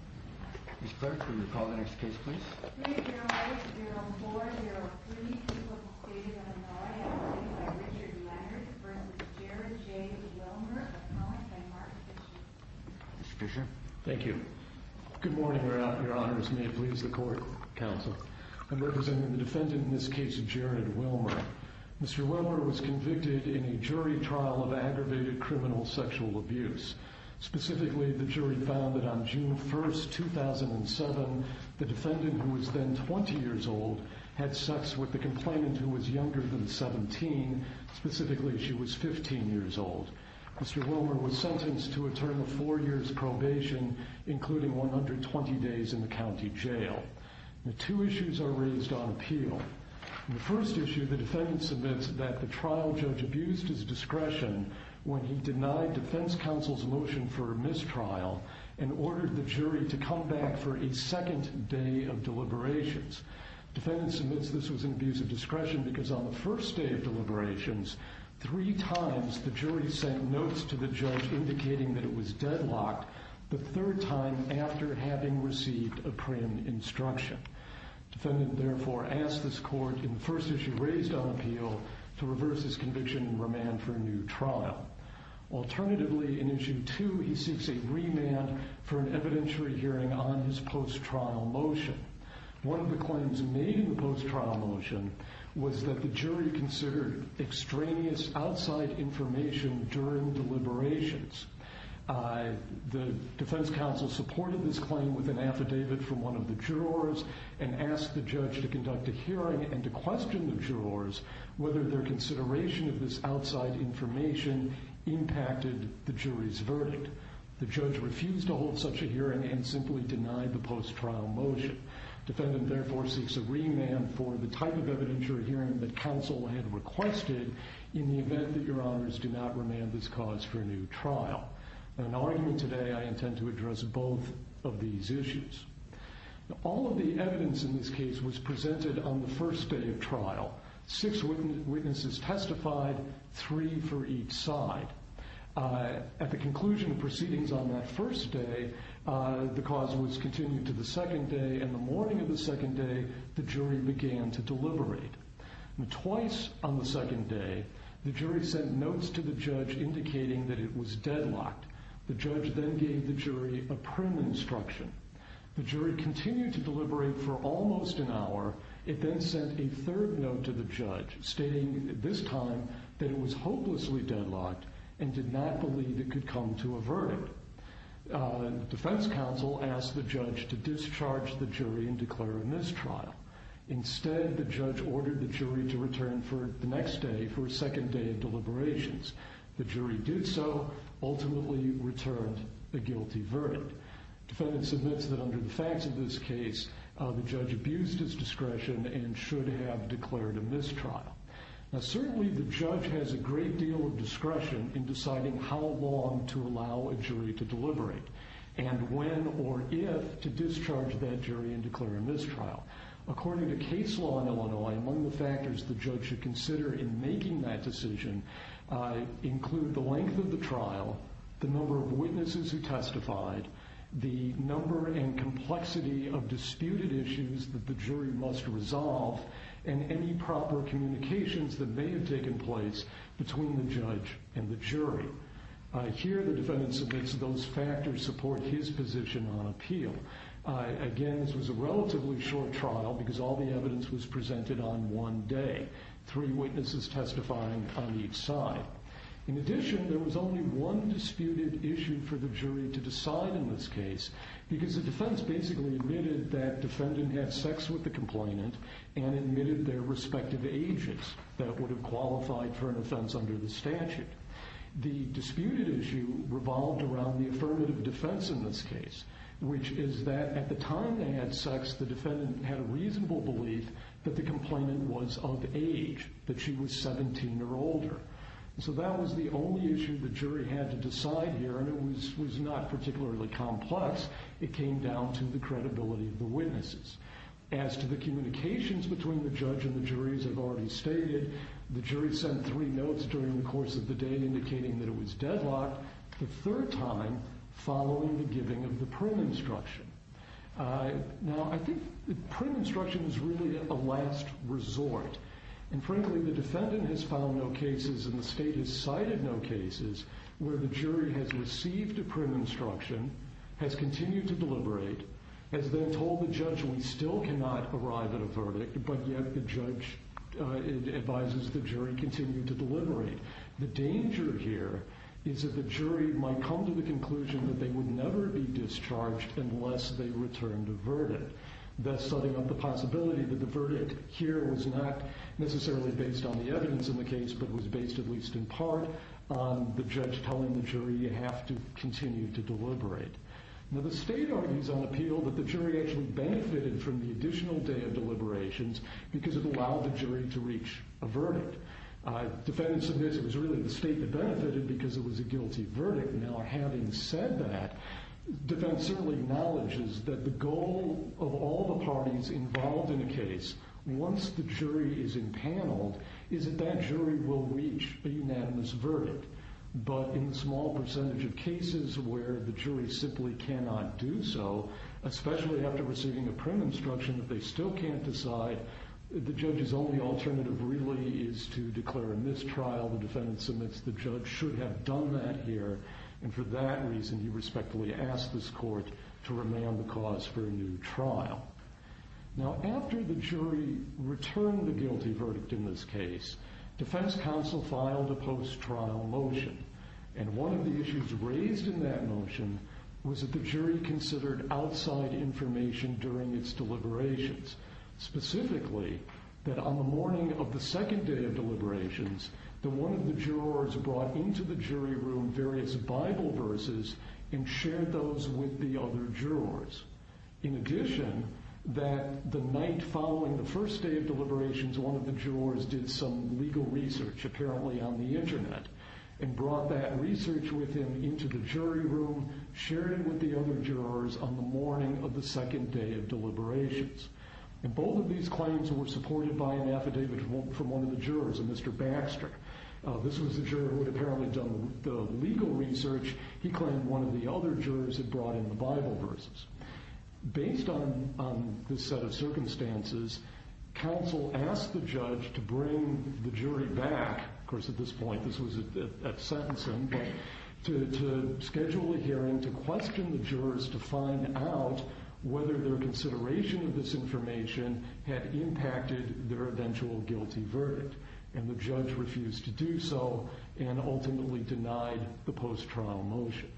Mr. Fisher, thank you. Good morning Your Honors, may it please the Court and Council. I'm representing the defendant in this case, Jared Willmer. Mr. Willmer was convicted in a jury trial of aggravated criminal sexual abuse, specifically the jury found that on June 1st, 2007, the defendant, who was then 20 years old, had sex with the complainant who was younger than 17, specifically she was 15 years old. Mr. Willmer was sentenced to a term of four years probation, including 120 days in the county jail. The two issues are raised on appeal. The first issue, the defendant submits that the trial judge abused his notion for a mistrial and ordered the jury to come back for a second day of deliberations. The defendant submits this was an abuse of discretion because on the first day of deliberations, three times the jury sent notes to the judge indicating that it was deadlocked, the third time after having received a preeminent instruction. The defendant therefore asked this court in the first issue raised on appeal to reverse his conviction and remand for a new trial. Alternatively, in issue two, he seeks a remand for an evidentiary hearing on his post-trial motion. One of the claims made in the post-trial motion was that the jury considered extraneous outside information during deliberations. The defense counsel supported this claim with an affidavit from one of the jurors and asked the judge to conduct a hearing and to question the jurors whether their consideration of this outside information impacted the jury's verdict. The judge refused to hold such a hearing and simply denied the post-trial motion. Defendant therefore seeks a remand for the type of evidentiary hearing that counsel had requested in the event that your honors do not remand this cause for a new trial. In our argument today, I intend to address both of these issues. All of the evidence in this case was presented on the first day of trial, six witnesses testified, three for each side. At the conclusion of proceedings on that first day, the cause was continued to the second day, and the morning of the second day, the jury began to deliberate. Twice on the second day, the jury sent notes to the judge indicating that it was deadlocked. The judge then gave the jury a print instruction. The jury continued to deliberate for almost an hour. It then sent a third note to the judge stating this time that it was hopelessly deadlocked and did not believe it could come to a verdict. The defense counsel asked the judge to discharge the jury and declare a mistrial. Instead, the judge ordered the jury to return for the next day for a second day of deliberations. The jury did so, ultimately returned a guilty verdict. Defendant submits that under the facts of this case, the judge abused his discretion and should have declared a mistrial. Now, certainly the judge has a great deal of discretion in deciding how long to allow a jury to deliberate and when or if to discharge that jury and declare a mistrial. According to case law in Illinois, among the factors the judge should consider in making that decision include the length of the trial, the number and complexity of disputed issues that the jury must resolve, and any proper communications that may have taken place between the judge and the jury. Here, the defendant submits those factors support his position on appeal. Again, this was a relatively short trial because all the evidence was presented on one day, three witnesses testifying on each side. In addition, there was only one disputed issue for the jury to decide in this case because the defense basically admitted that defendant had sex with the complainant and admitted their respective ages that would have qualified for an offense under the statute. The disputed issue revolved around the affirmative defense in this case, which is that at the time they had sex, the defendant had a reasonable belief that the complainant was of age, that she was 17 or older. So that was the only issue the judge had to decide here, and it was not particularly complex. It came down to the credibility of the witnesses. As to the communications between the judge and the juries, I've already stated, the jury sent three notes during the course of the day indicating that it was deadlocked the third time following the giving of the prim instruction. Now, I think the prim instruction is really a last resort. And frankly, the defendant has found no cases and the state has cited no cases where the jury has received a prim instruction, has continued to deliberate, has then told the judge we still cannot arrive at a verdict, but yet the judge advises the jury continue to deliberate. The danger here is that the jury might come to the conclusion that they would never be discharged unless they returned a verdict. That's setting up the possibility that the verdict here was not necessarily based on the evidence in the case, but was based, at least in the judge telling the jury you have to continue to deliberate. Now, the state argues on appeal that the jury actually benefited from the additional day of deliberations because it allowed the jury to reach a verdict. Defendant submits it was really the state that benefited because it was a guilty verdict. Now, having said that, the defense certainly acknowledges that the goal of all the parties involved in a case, once the jury is impaneled, is that jury will reach a unanimous verdict. But in the small percentage of cases where the jury simply cannot do so, especially after receiving a prim instruction that they still can't decide, the judge's only alternative really is to declare a mistrial. The defendant submits the judge should have done that here, and for that reason, he respectfully asked this court to remand the cause for a new trial. Now, after the jury returned the guilty verdict in this case, defense counsel filed a post trial motion, and one of the issues raised in that motion was that the jury considered outside information during its deliberations. Specifically, that on the morning of the second day of deliberations, that one of the jurors brought into the jury room various Bible verses and shared those with the other jurors. In addition, that the night following the first day of deliberations, one of the jurors did some legal research, apparently on the internet, and brought that research with him into the jury room, sharing with the other jurors on the morning of the second day of deliberations. And both of these claims were supported by an affidavit from one of the jurors, a Mr. Baxter. This was the juror who had apparently done the legal research. He claimed one of the other jurors had brought in the Bible verses. Based on this set of evidence, the judge decided to bring the jury back. Of course, at this point, this was at sentencing, to schedule a hearing to question the jurors to find out whether their consideration of this information had impacted their eventual guilty verdict. And the judge refused to do so, and ultimately denied the post trial motion.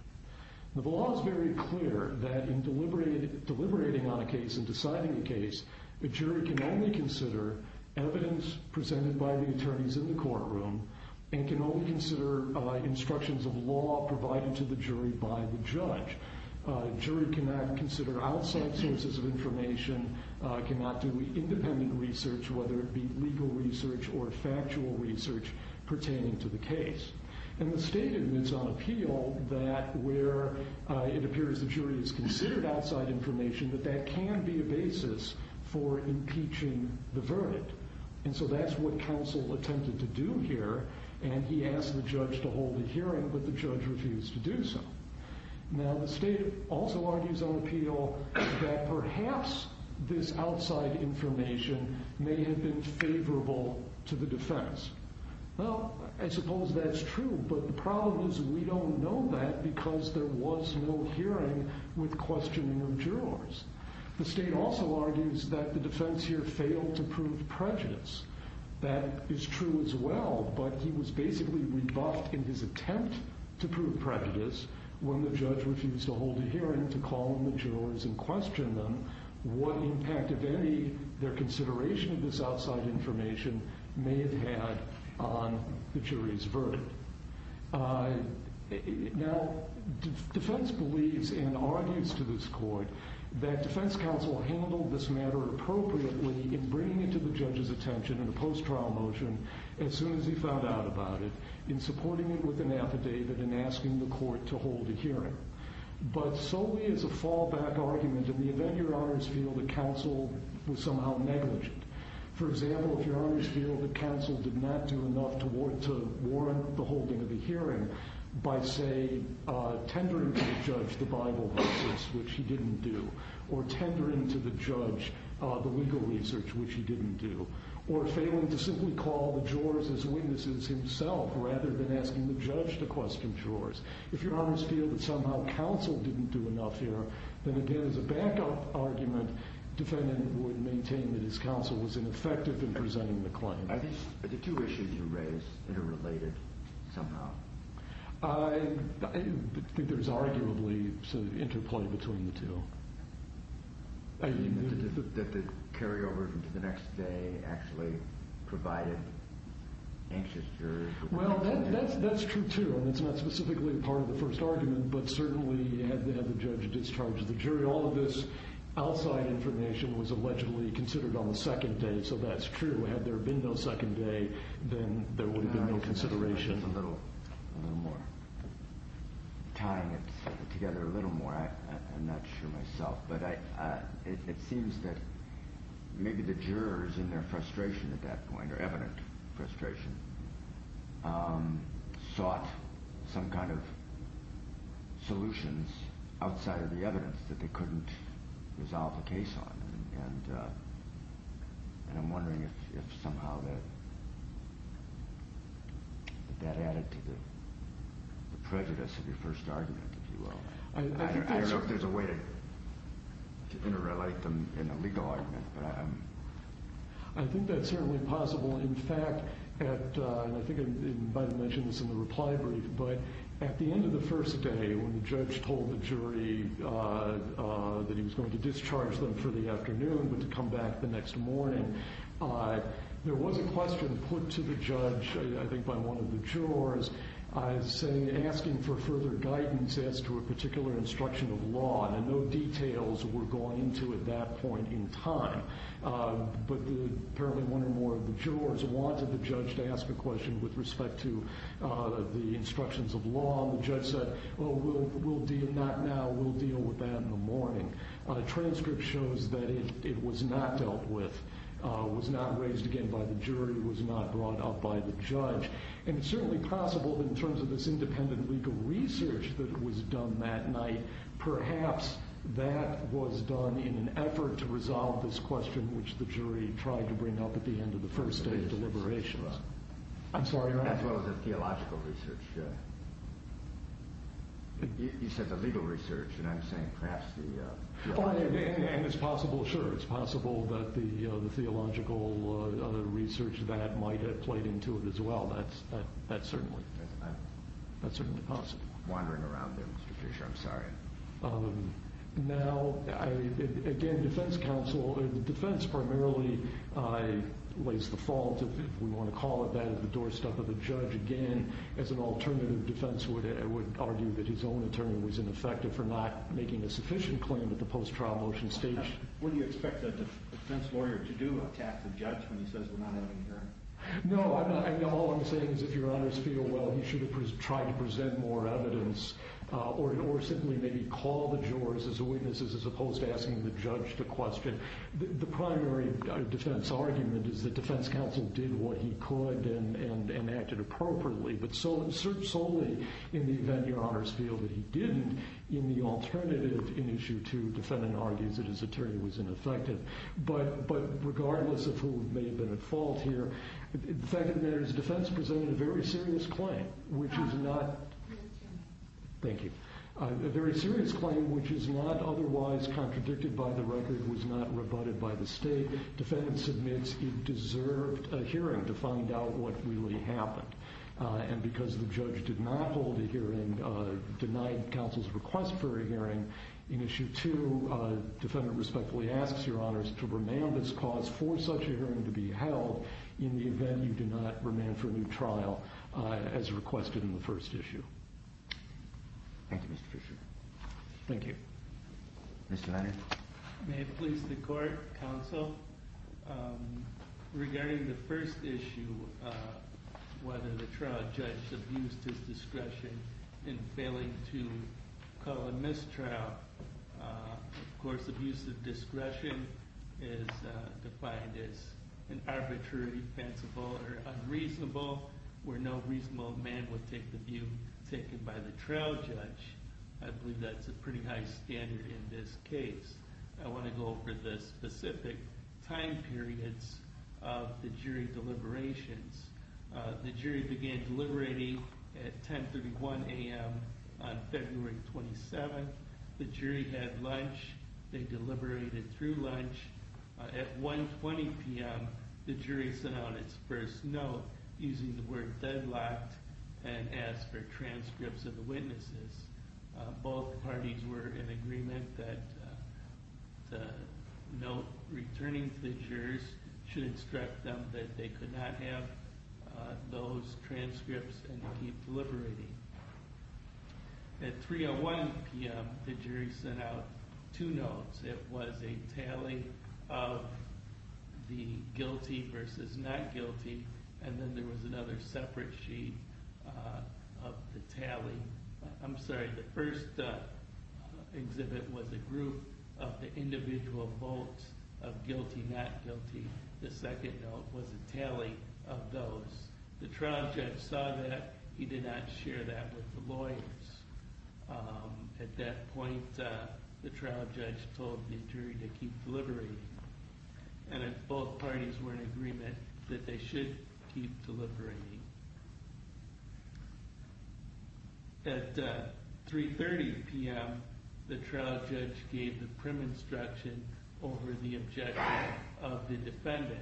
The law is very clear that in deliberating on a case and deciding a case, a jury can only consider evidence presented by the attorneys in the courtroom, and can only consider instructions of law provided to the jury by the judge. A jury cannot consider outside sources of information, cannot do independent research, whether it be legal research or factual research pertaining to the case. And the state admits on appeal that where it appears the jury has considered outside information, that that can be a basis for impeaching the verdict. And so that's what counsel attempted to do here, and he asked the judge to hold a hearing, but the judge refused to do so. Now, the state also argues on appeal that perhaps this outside information may have been favorable to the defense. Well, I suppose that's true, but the problem is we don't know that because there was no hearing with questioning of jurors. The state also argues that the defense here failed to prove prejudice. That is true as well, but he was basically rebuffed in his attempt to prove prejudice when the judge refused to hold a hearing to call on the jurors and question them what impact, if any, their consideration of this outside information may have had on the jury's verdict. Now, defense believes and argues to this court that defense counsel handled this matter appropriately in bringing it to the judge's attention in a post-trial motion as soon as he found out about it, in supporting it with an affidavit and asking the court to hold a hearing. But solely as a fallback argument in the event your honors feel that counsel was somehow negligent. For example, to warrant the holding of the hearing by, say, tendering to the judge the Bible verses, which he didn't do, or tendering to the judge the legal research, which he didn't do, or failing to simply call the jurors as witnesses himself rather than asking the judge to question jurors. If your honors feel that somehow counsel didn't do enough here, then again as a backup argument, defendant would maintain that his counsel was ineffective in presenting the claim. I think the two issues you raise are related somehow. I think there's arguably some interplay between the two. I mean, that the carryover to the next day actually provided anxious jurors. Well, that's true too, and it's not specifically part of the first argument, but certainly had the judge discharged the jury, all of this outside information was allegedly considered on the second day, so that's true. Had there been no discussion on the second day, then there would have been no consideration. I'm just a little more tying it together, a little more. I'm not sure myself, but it seems that maybe the jurors in their frustration at that point, or evident frustration, sought some kind of solutions outside of the evidence that they couldn't resolve the case on. And I'm wondering if somehow that added to the prejudice of your first argument, if you will. I don't know if there's a way to interrelate them in a legal argument, but I'm... I think that's certainly possible. In fact, and I think I might have mentioned this in the reply brief, but at the end of the first day, when the judge told the jury that he was going to discharge them for the afternoon, but to come back the next morning, there was a question put to the judge, I think by one of the jurors, saying, asking for further guidance as to a particular instruction of law, and no details were going to at that point in time. But apparently one or more of the jurors wanted the judge to ask a question with respect to the instructions of law, and the judge said, well, we'll deal with that now, we'll deal with that in the morning. A transcript shows that it was not dealt with, was not raised again by the jury, was not brought up by the judge. And it's certainly possible, in terms of this independent legal research that was done that night, perhaps that was done in an effort to resolve this question which the jury tried to bring up at the end of the first day of deliberations. I'm sorry, Your Honor? As well as the theological research. You said the legal research, and I'm saying perhaps the theological research. And it's possible, sure, it's possible that the theological research that might have played into it as well. That's certainly possible. I'm just wandering around there, Mr. Fisher, I'm sorry. Now, again, defense counsel, defense primarily lays the fault, if we want to call it that, at the doorstep of the judge. Again, as an alternative, defense would argue that his own attorney was ineffective for not making a sufficient claim at the post-trial motion stage. Would you expect a defense lawyer to do a task of judge when he says we're not having a hearing? No, I know all I'm saying is if Your Honor's feel, well, he should have tried to present more evidence or simply maybe call the jurors as witnesses as opposed to asking the judge the question. The primary defense argument is that defense counsel did what he could and acted appropriately, but solely in the event Your Honor's feel that he didn't, in the alternative, in issue two, defendant argues that his attorney was ineffective. But regardless of who may have been at fault here, the fact of the matter is defense presented a very serious claim, which is not... Thank you. A very serious claim, which is not otherwise contradicted by the record, was not rebutted by the state. Defendant submits he deserved a hearing to find out what really happened. And because the judge did not hold a hearing, denied counsel's request for a hearing, in issue two, defendant respectfully asks Your Honor's to remand this cause for such a hearing to be held in the event you do not remand for a new trial as requested in the first issue. Thank you, Mr. Fisher. Thank you. Mr. Leonard. May it please the court, counsel, regarding the first issue, whether the trial judge abused his discretion in failing to call a mistrial. Of course, abusive discretion is defined as an arbitrary, defensible, or unreasonable, where no reasonable man would take the view taken by the trial judge. I believe that's a pretty high standard in this case. I want to go over the specific time periods of the jury deliberations. The jury began deliberating at 10.31 a.m. on February 27th. The jury had lunch. They deliberated through lunch. At 1.20 p.m., the jury sent out its first note, using the word deadlocked, and asked for transcripts of the witnesses. Both parties were in agreement that the note returning to the jurors should instruct them that they could not have those transcripts and keep deliberating. At 3.01 p.m., the jury sent out two notes. It was a tally of the guilty versus not guilty, and then there was another separate sheet of the tally. I'm sorry, the first exhibit was a group of the individual votes of guilty, not guilty. The second note was a tally of those. The trial judge saw that. He did not share that with the lawyers. At that point, the trial judge told the jury to keep deliberating. And both parties were in agreement that they should keep deliberating. At 3.30 p.m., the trial judge gave the prim instruction over the objection of the defendant.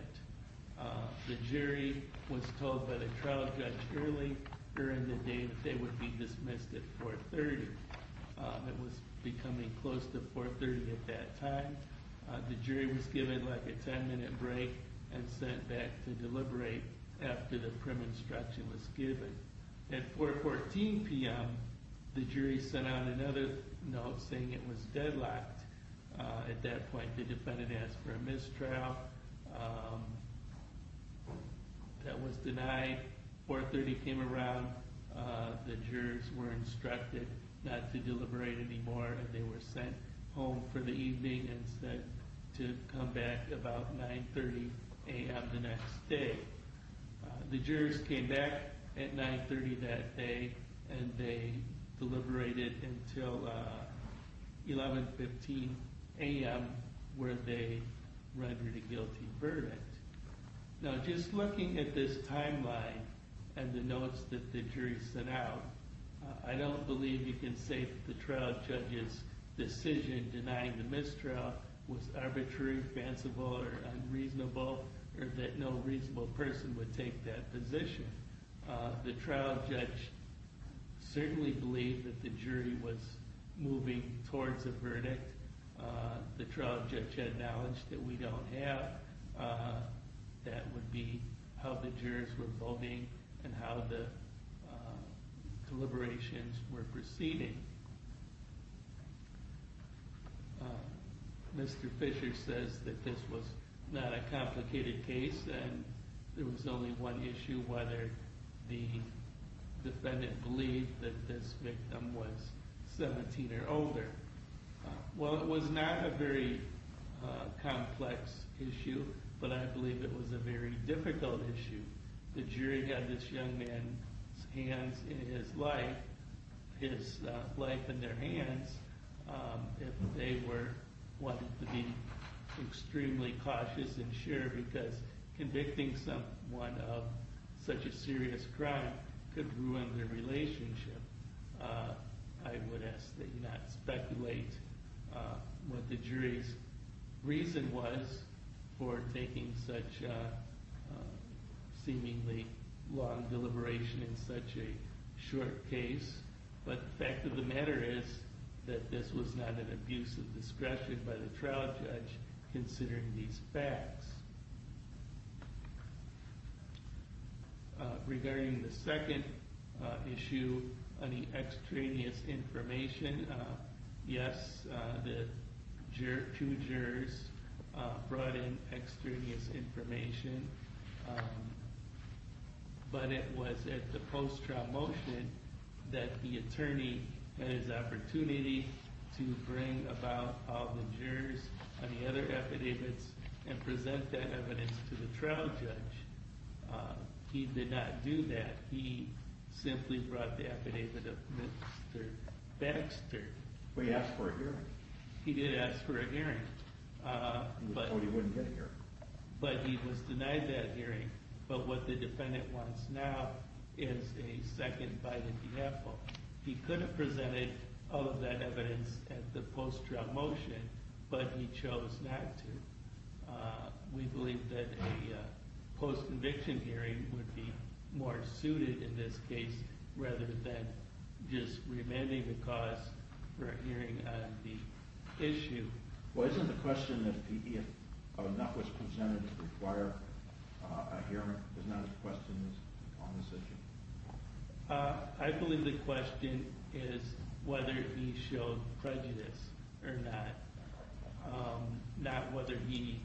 The jury was told by the trial judge early during the day that they would be dismissed at 4.30. It was becoming close to 4.30 at that time. The jury was given like a 10-minute break and sent back to deliberate after the prim instruction was given. At 4.14 p.m., the jury sent out another note saying it was deadlocked. At that point, the defendant asked for a mistrial. That was denied. 4.30 came around. The jurors were instructed not to deliberate anymore, and they were sent home for the evening and said to come back about 9.30 a.m. the next day. The jurors came back at 9.30 that day, and they deliberated until 11.15 a.m., where they rendered a guilty verdict. Now, just looking at this timeline and the notes that the jury sent out, I don't believe you can say that the trial judge's decision denying the mistrial was arbitrary, fanciful, or unreasonable, or that no reasonable person would take that position. The trial judge certainly believed that the jury was moving towards a verdict. The trial judge had knowledge that we don't have. That would be how the jurors were voting and how the deliberations were proceeding. Mr. Fisher says that this was not a complicated case, and there was only one issue, whether the defendant believed that this victim was 17 or older. Well, it was not a very complex issue, but I believe it was a very difficult issue. The jury got this young man's hands in his life, his life in their hands, if they wanted to be extremely cautious and sure, because convicting someone of such a serious crime could ruin their relationship. I would ask that you not speculate what the jury's reason was for taking such a seemingly long deliberation in such a short case. But the fact of the matter is that this was not an abuse of discretion by the trial judge considering these facts. Regarding the second issue on the extraneous information, yes, the two jurors brought in extraneous information, but it was at the post-trial motion that the attorney had his opportunity to bring about all the jurors on the other affidavits and present that evidence to the trial judge. He did not do that. He simply brought the affidavit of Mr. Baxter. Well, he asked for a hearing. He did ask for a hearing. He was told he wouldn't get a hearing. But he was denied that hearing. But what the defendant wants now is a second bite of the apple. He could have presented all of that evidence at the post-trial motion, but he chose not to. We believe that a post-conviction hearing would be more suited in this case rather than just remanding the cause for a hearing on the issue. Well, isn't the question that if enough was presented to require a hearing is not a question on this issue? I believe the question is whether he showed prejudice or not, not whether he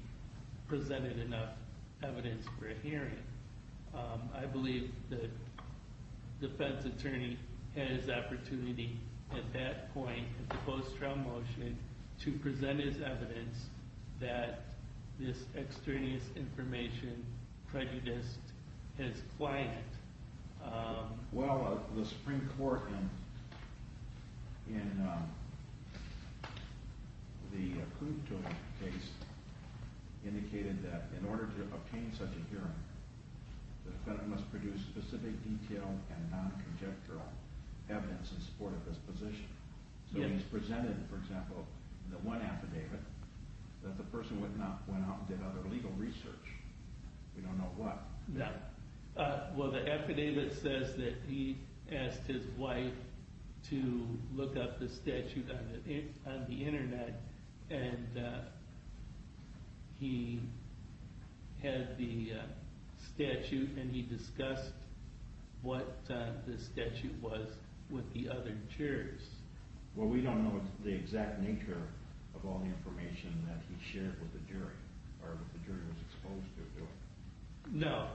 presented enough evidence for a hearing. I believe the defense attorney had his opportunity at that point at the post-trial motion to present his evidence that this extraneous information prejudiced his client. Well, the Supreme Court in the accrued total case indicated that in order to obtain such a hearing the defendant must produce specific detailed and non-conjectural evidence in support of his position. So he's presented, for example, the one affidavit that the person went out and did other legal research. We don't know what. Well, the affidavit says that he asked his wife to look up the statute on the internet and he had the statute and he discussed what the statute was with the other jurors. Well, we don't know the exact nature of all the information that he shared with the jury or that the jury was exposed to. No.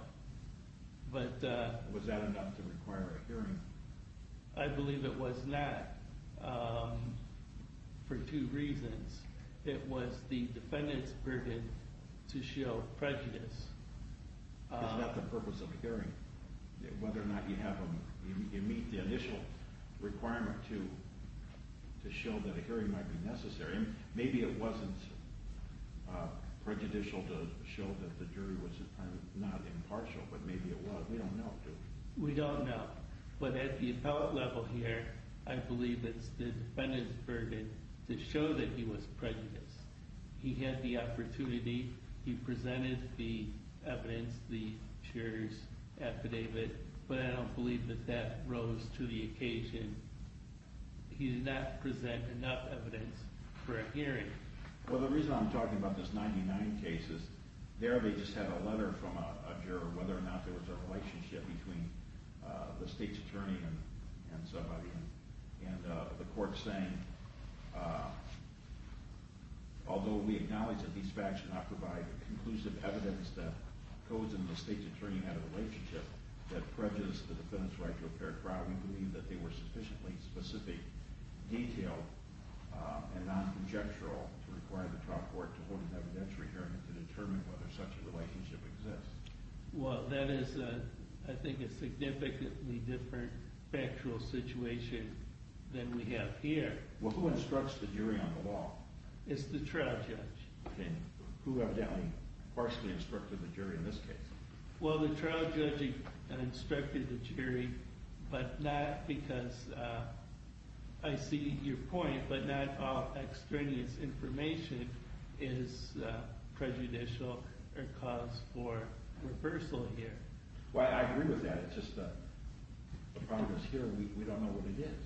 Was that enough to require a hearing? I believe it was not for two reasons. It was the defendant's burden to show prejudice. It's not the purpose of a hearing. Whether or not you meet the initial requirement to show that a hearing might be necessary. Maybe it wasn't prejudicial to show that the jury was not impartial, but maybe it was. We don't know. But at the appellate level here I believe it's the defendant's burden to show that he was prejudiced. He had the opportunity. He presented the evidence, the juror's affidavit, but I don't believe that that rose to the occasion. He did not present enough evidence for a hearing. Well, the reason I'm talking about this 99 cases there they just had a letter from a juror whether or not there was a relationship between the state's attorney and somebody and the court saying although we acknowledge that these facts do not provide conclusive evidence that codes in the state's attorney had a relationship that prejudiced the defendant's right to a fair trial we believe that they were sufficiently specific, detailed, and non-conjectural to require the trial court to hold an evidentiary hearing to determine whether such a relationship exists. Well, that is, I think, a significantly different factual situation than we have here. Well, who instructs the jury on the law? It's the trial judge. Who evidently partially instructed the jury in this case? Well, the trial judge instructed the jury but not because I see your point but not all extraneous information is prejudicial or cause for reversal here. Well, I agree with that. It's just a progress here and we don't know what it is.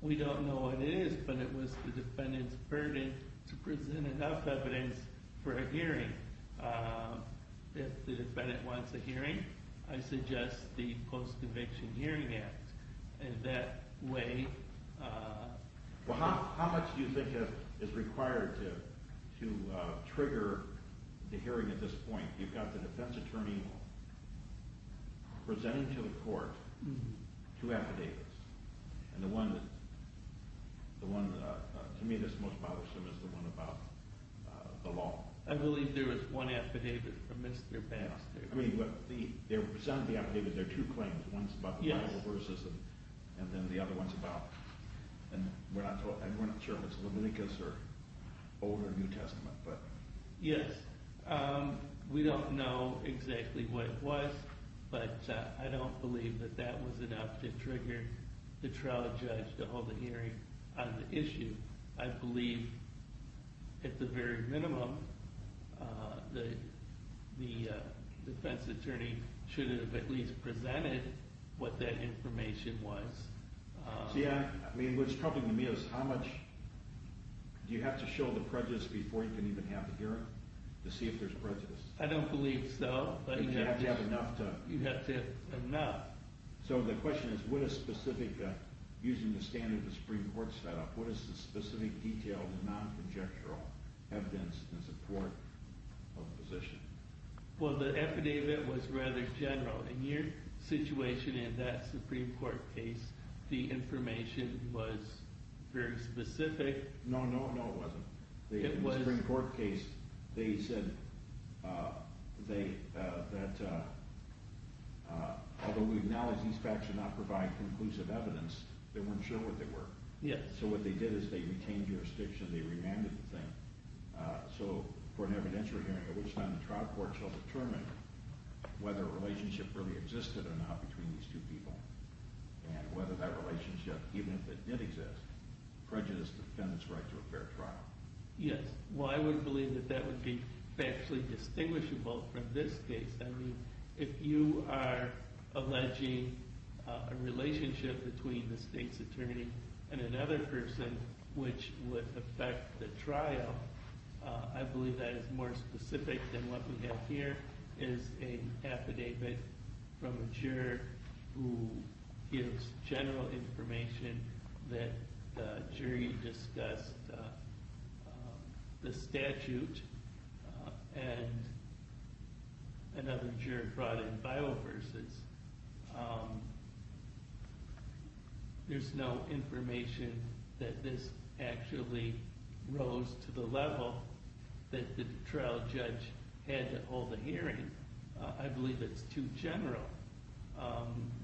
We don't know what it is but it was the defendant's burden to present enough evidence for a hearing. If the defendant wants a hearing I suggest the post-conviction hearing act and that way Well, how much do you think is required to trigger the hearing at this point? You've got the defense attorney presenting to the court two affidavits and the one to me that's most bothersome is the one about the law. I believe there was one affidavit from Mr. Baxter. There are two claims one's about the Bible verses and then the other one's about I'm not sure if it's Leviticus or Old or New Testament Yes We don't know exactly what it was but I don't believe that that was enough to trigger the trial judge to hold a hearing on the issue. I believe at the very minimum the defense attorney should have at least presented what that information was. Yeah, I mean what's troubling to me is how much Do you have to show the prejudice before you can even have the hearing to see if there's prejudice? I don't believe so You'd have to have enough So the question is using the standard the Supreme Court set up, what is the specific detail of the non-conjectural evidence in support of the position? Well, the affidavit was rather general In your situation in that Supreme Court case, the information was very specific No, no, no it wasn't In the Supreme Court case they said that although we acknowledge these facts do not provide conclusive evidence they weren't sure what they were So what they did is they retained jurisdiction they remanded the thing so for an evidentiary hearing it was done in trial court so it was determined whether a relationship really existed or not between these two people and whether that relationship even if it did exist prejudice defends right to a fair trial Yes, well I would believe that that would be factually distinguishable from this case I mean, if you are alleging a relationship between the state's attorney and another person which would affect the trial I believe that is more specific than what we have here is an affidavit from a juror who gives general information that the jury discussed the statute and another juror brought in Bible verses There's no information that this actually rose to the level that the trial judge had to hold a hearing I believe that's too general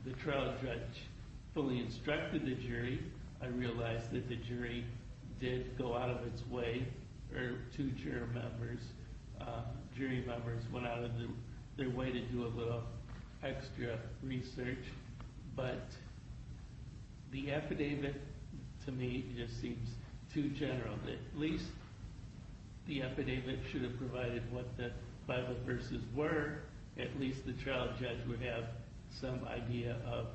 The trial judge fully instructed the jury I realize that the jury did go out of its way or two jury members went out of their way to do a little extra research but the affidavit to me just seems too general at least the affidavit should have provided what the Bible verses were at least the trial judge would have some idea of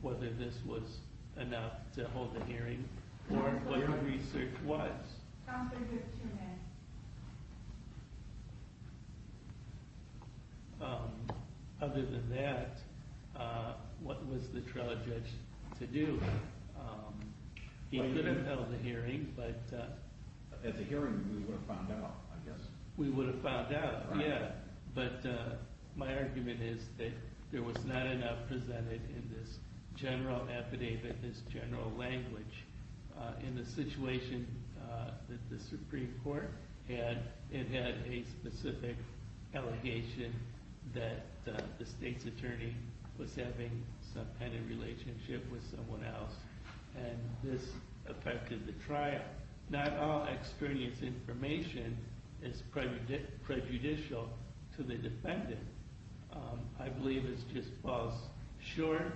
whether this was enough to hold a hearing or what the research was Other than that what was the trial judge to do He could have held a hearing but as a hearing we would have found out We would have found out but my argument is that there was not enough presented in this general affidavit, this general language in the situation that the Supreme Court had, it had a specific allegation that the state's attorney was having some kind of relationship with someone else and this affected the trial not all extraneous information is prejudicial to the defendant I believe it just falls short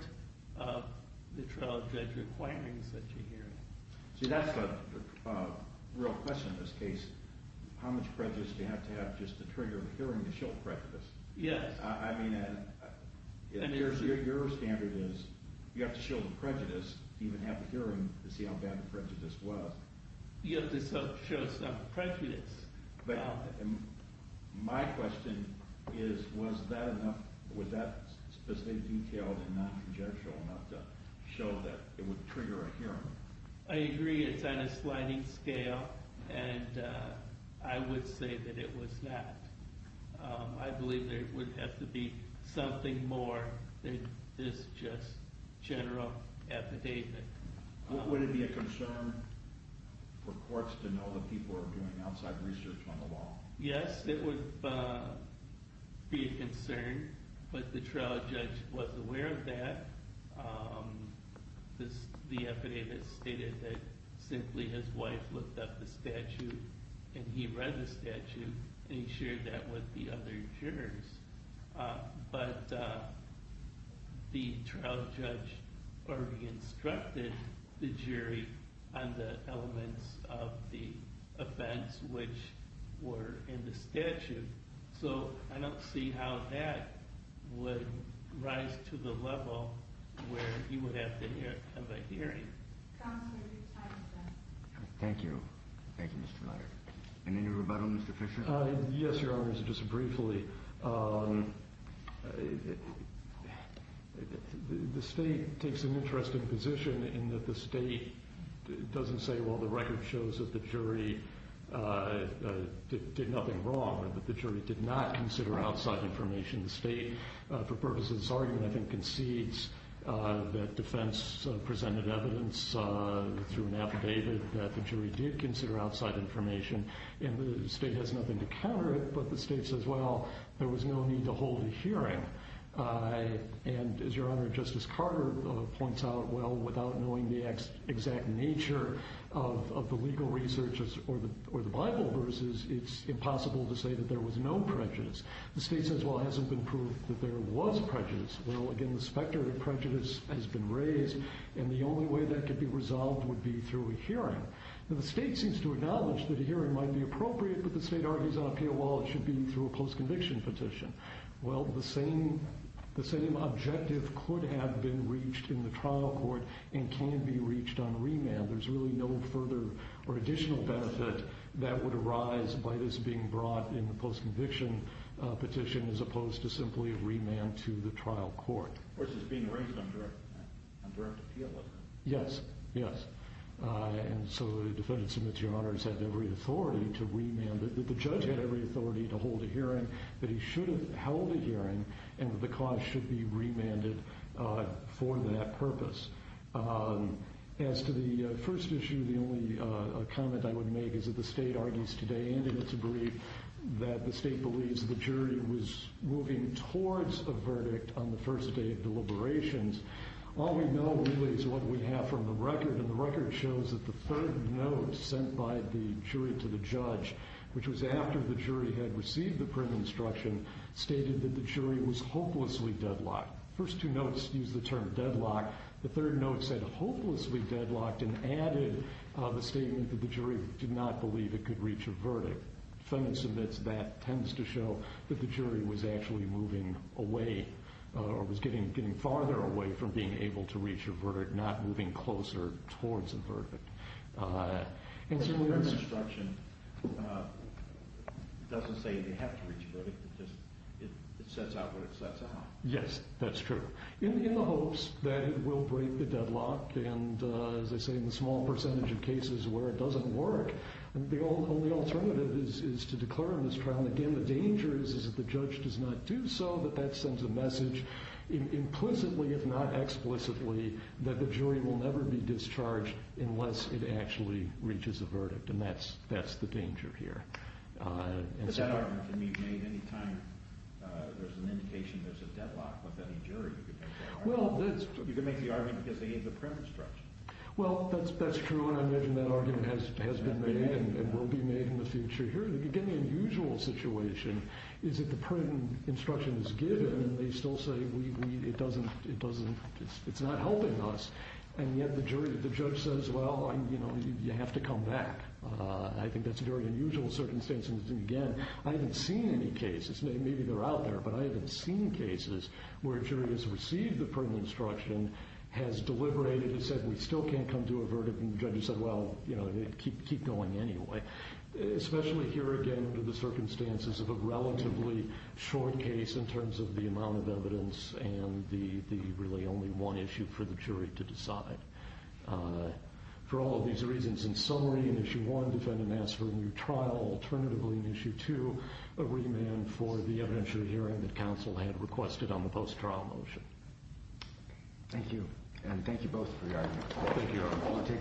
of the trial judge requiring such a hearing So that's a real question in this case how much prejudice do you have to have just to trigger a hearing to show prejudice I mean your standard is you have to show the prejudice even have a hearing to see how bad the prejudice was You have to show some prejudice My question is was that enough, was that specific detail and non-conjectual enough to show that it would trigger a hearing I agree it's on a sliding scale and I would say that it was not I believe there would have to be something more than this just general affidavit Would it be a concern for courts to know that people are doing outside research on the law Yes it would be a concern but the trial judge was aware of that The affidavit stated that simply his wife looked up the statute and he read the statute and he shared that with the other jurors but the trial judge already instructed the jury on the elements of the offense which were in the statute so I don't see how that would rise to the level where he would have to have a hearing Counselor your time is up Thank you Any rebuttal Mr. Fisher Yes your honor just briefly the state takes an interesting position in that the state doesn't say well the record shows that the jury did nothing wrong the jury did not consider outside information the state for purposes of this argument I think concedes that defense presented evidence through an affidavit that the jury did consider outside information and the state has nothing to counter it but the state says well there was no need to hold a hearing and as your honor Justice Carter points out well without knowing the exact nature of the legal research or the Bible verses it's impossible to say that there was no prejudice the state says well it hasn't been proved that there was prejudice well again the specter of prejudice has been raised and the only way that could be resolved would be through a hearing the state seems to acknowledge that a hearing might be appropriate but the state argues it should be through a post conviction petition well the same the same objective could have been reached in the trial court and can be reached on remand there's really no further or additional benefit that would arise by this being brought in the post conviction petition as opposed to simply remand to the trial court yes yes so defendants and your honors have every authority to remand the judge has every authority to hold a hearing that he should have held a hearing and the cause should be remanded for that purpose as to the first issue the only comment I would make is that the state argues today and it's a brief that the state believes the jury was moving towards the verdict on the first day of deliberations all we know really is what we know is that the third note sent by the jury to the judge which was after the jury had received the print instruction stated that the jury was hopelessly deadlocked the first two notes used the term deadlock the third note said hopelessly deadlocked and added the statement that the jury did not believe it could reach a verdict defendants admits that tends to show that the jury was actually moving away or was getting farther away from being able to reach a verdict not moving closer towards a verdict the print instruction doesn't say they have to reach a verdict it sets out what it sets out yes that's true in the hopes that it will break the deadlock and as I say in the small percentage of cases where it doesn't work the only alternative is to declare in this trial and again the danger is that the judge does not do so that sends a message implicitly if not explicitly that the jury will never be discharged unless it actually reaches a verdict and that's the danger here but that argument can be made any time there's an indication there's a deadlock with any jury you can make the argument because they gave the print instruction well that's true and I imagine that argument has been made and will be made in the future here again the unusual situation is that the print instruction is given and they still say it doesn't it's not helping us and yet the judge says well you have to come back I think that's a very unusual circumstance and again I haven't seen any cases maybe they're out there but I haven't seen cases where a jury has received the print instruction has deliberated and said we still can't come to a verdict and the judge has said well keep going anyway especially here again under the circumstances of a relatively short case in terms of the amount of evidence and the really only one issue for the jury to decide for all of these reasons in summary in issue one defendant asks for a new trial alternatively in issue two a remand for the evidentiary hearing that counsel had requested on the post-trial motion Thank you and thank you both for the argument Thank you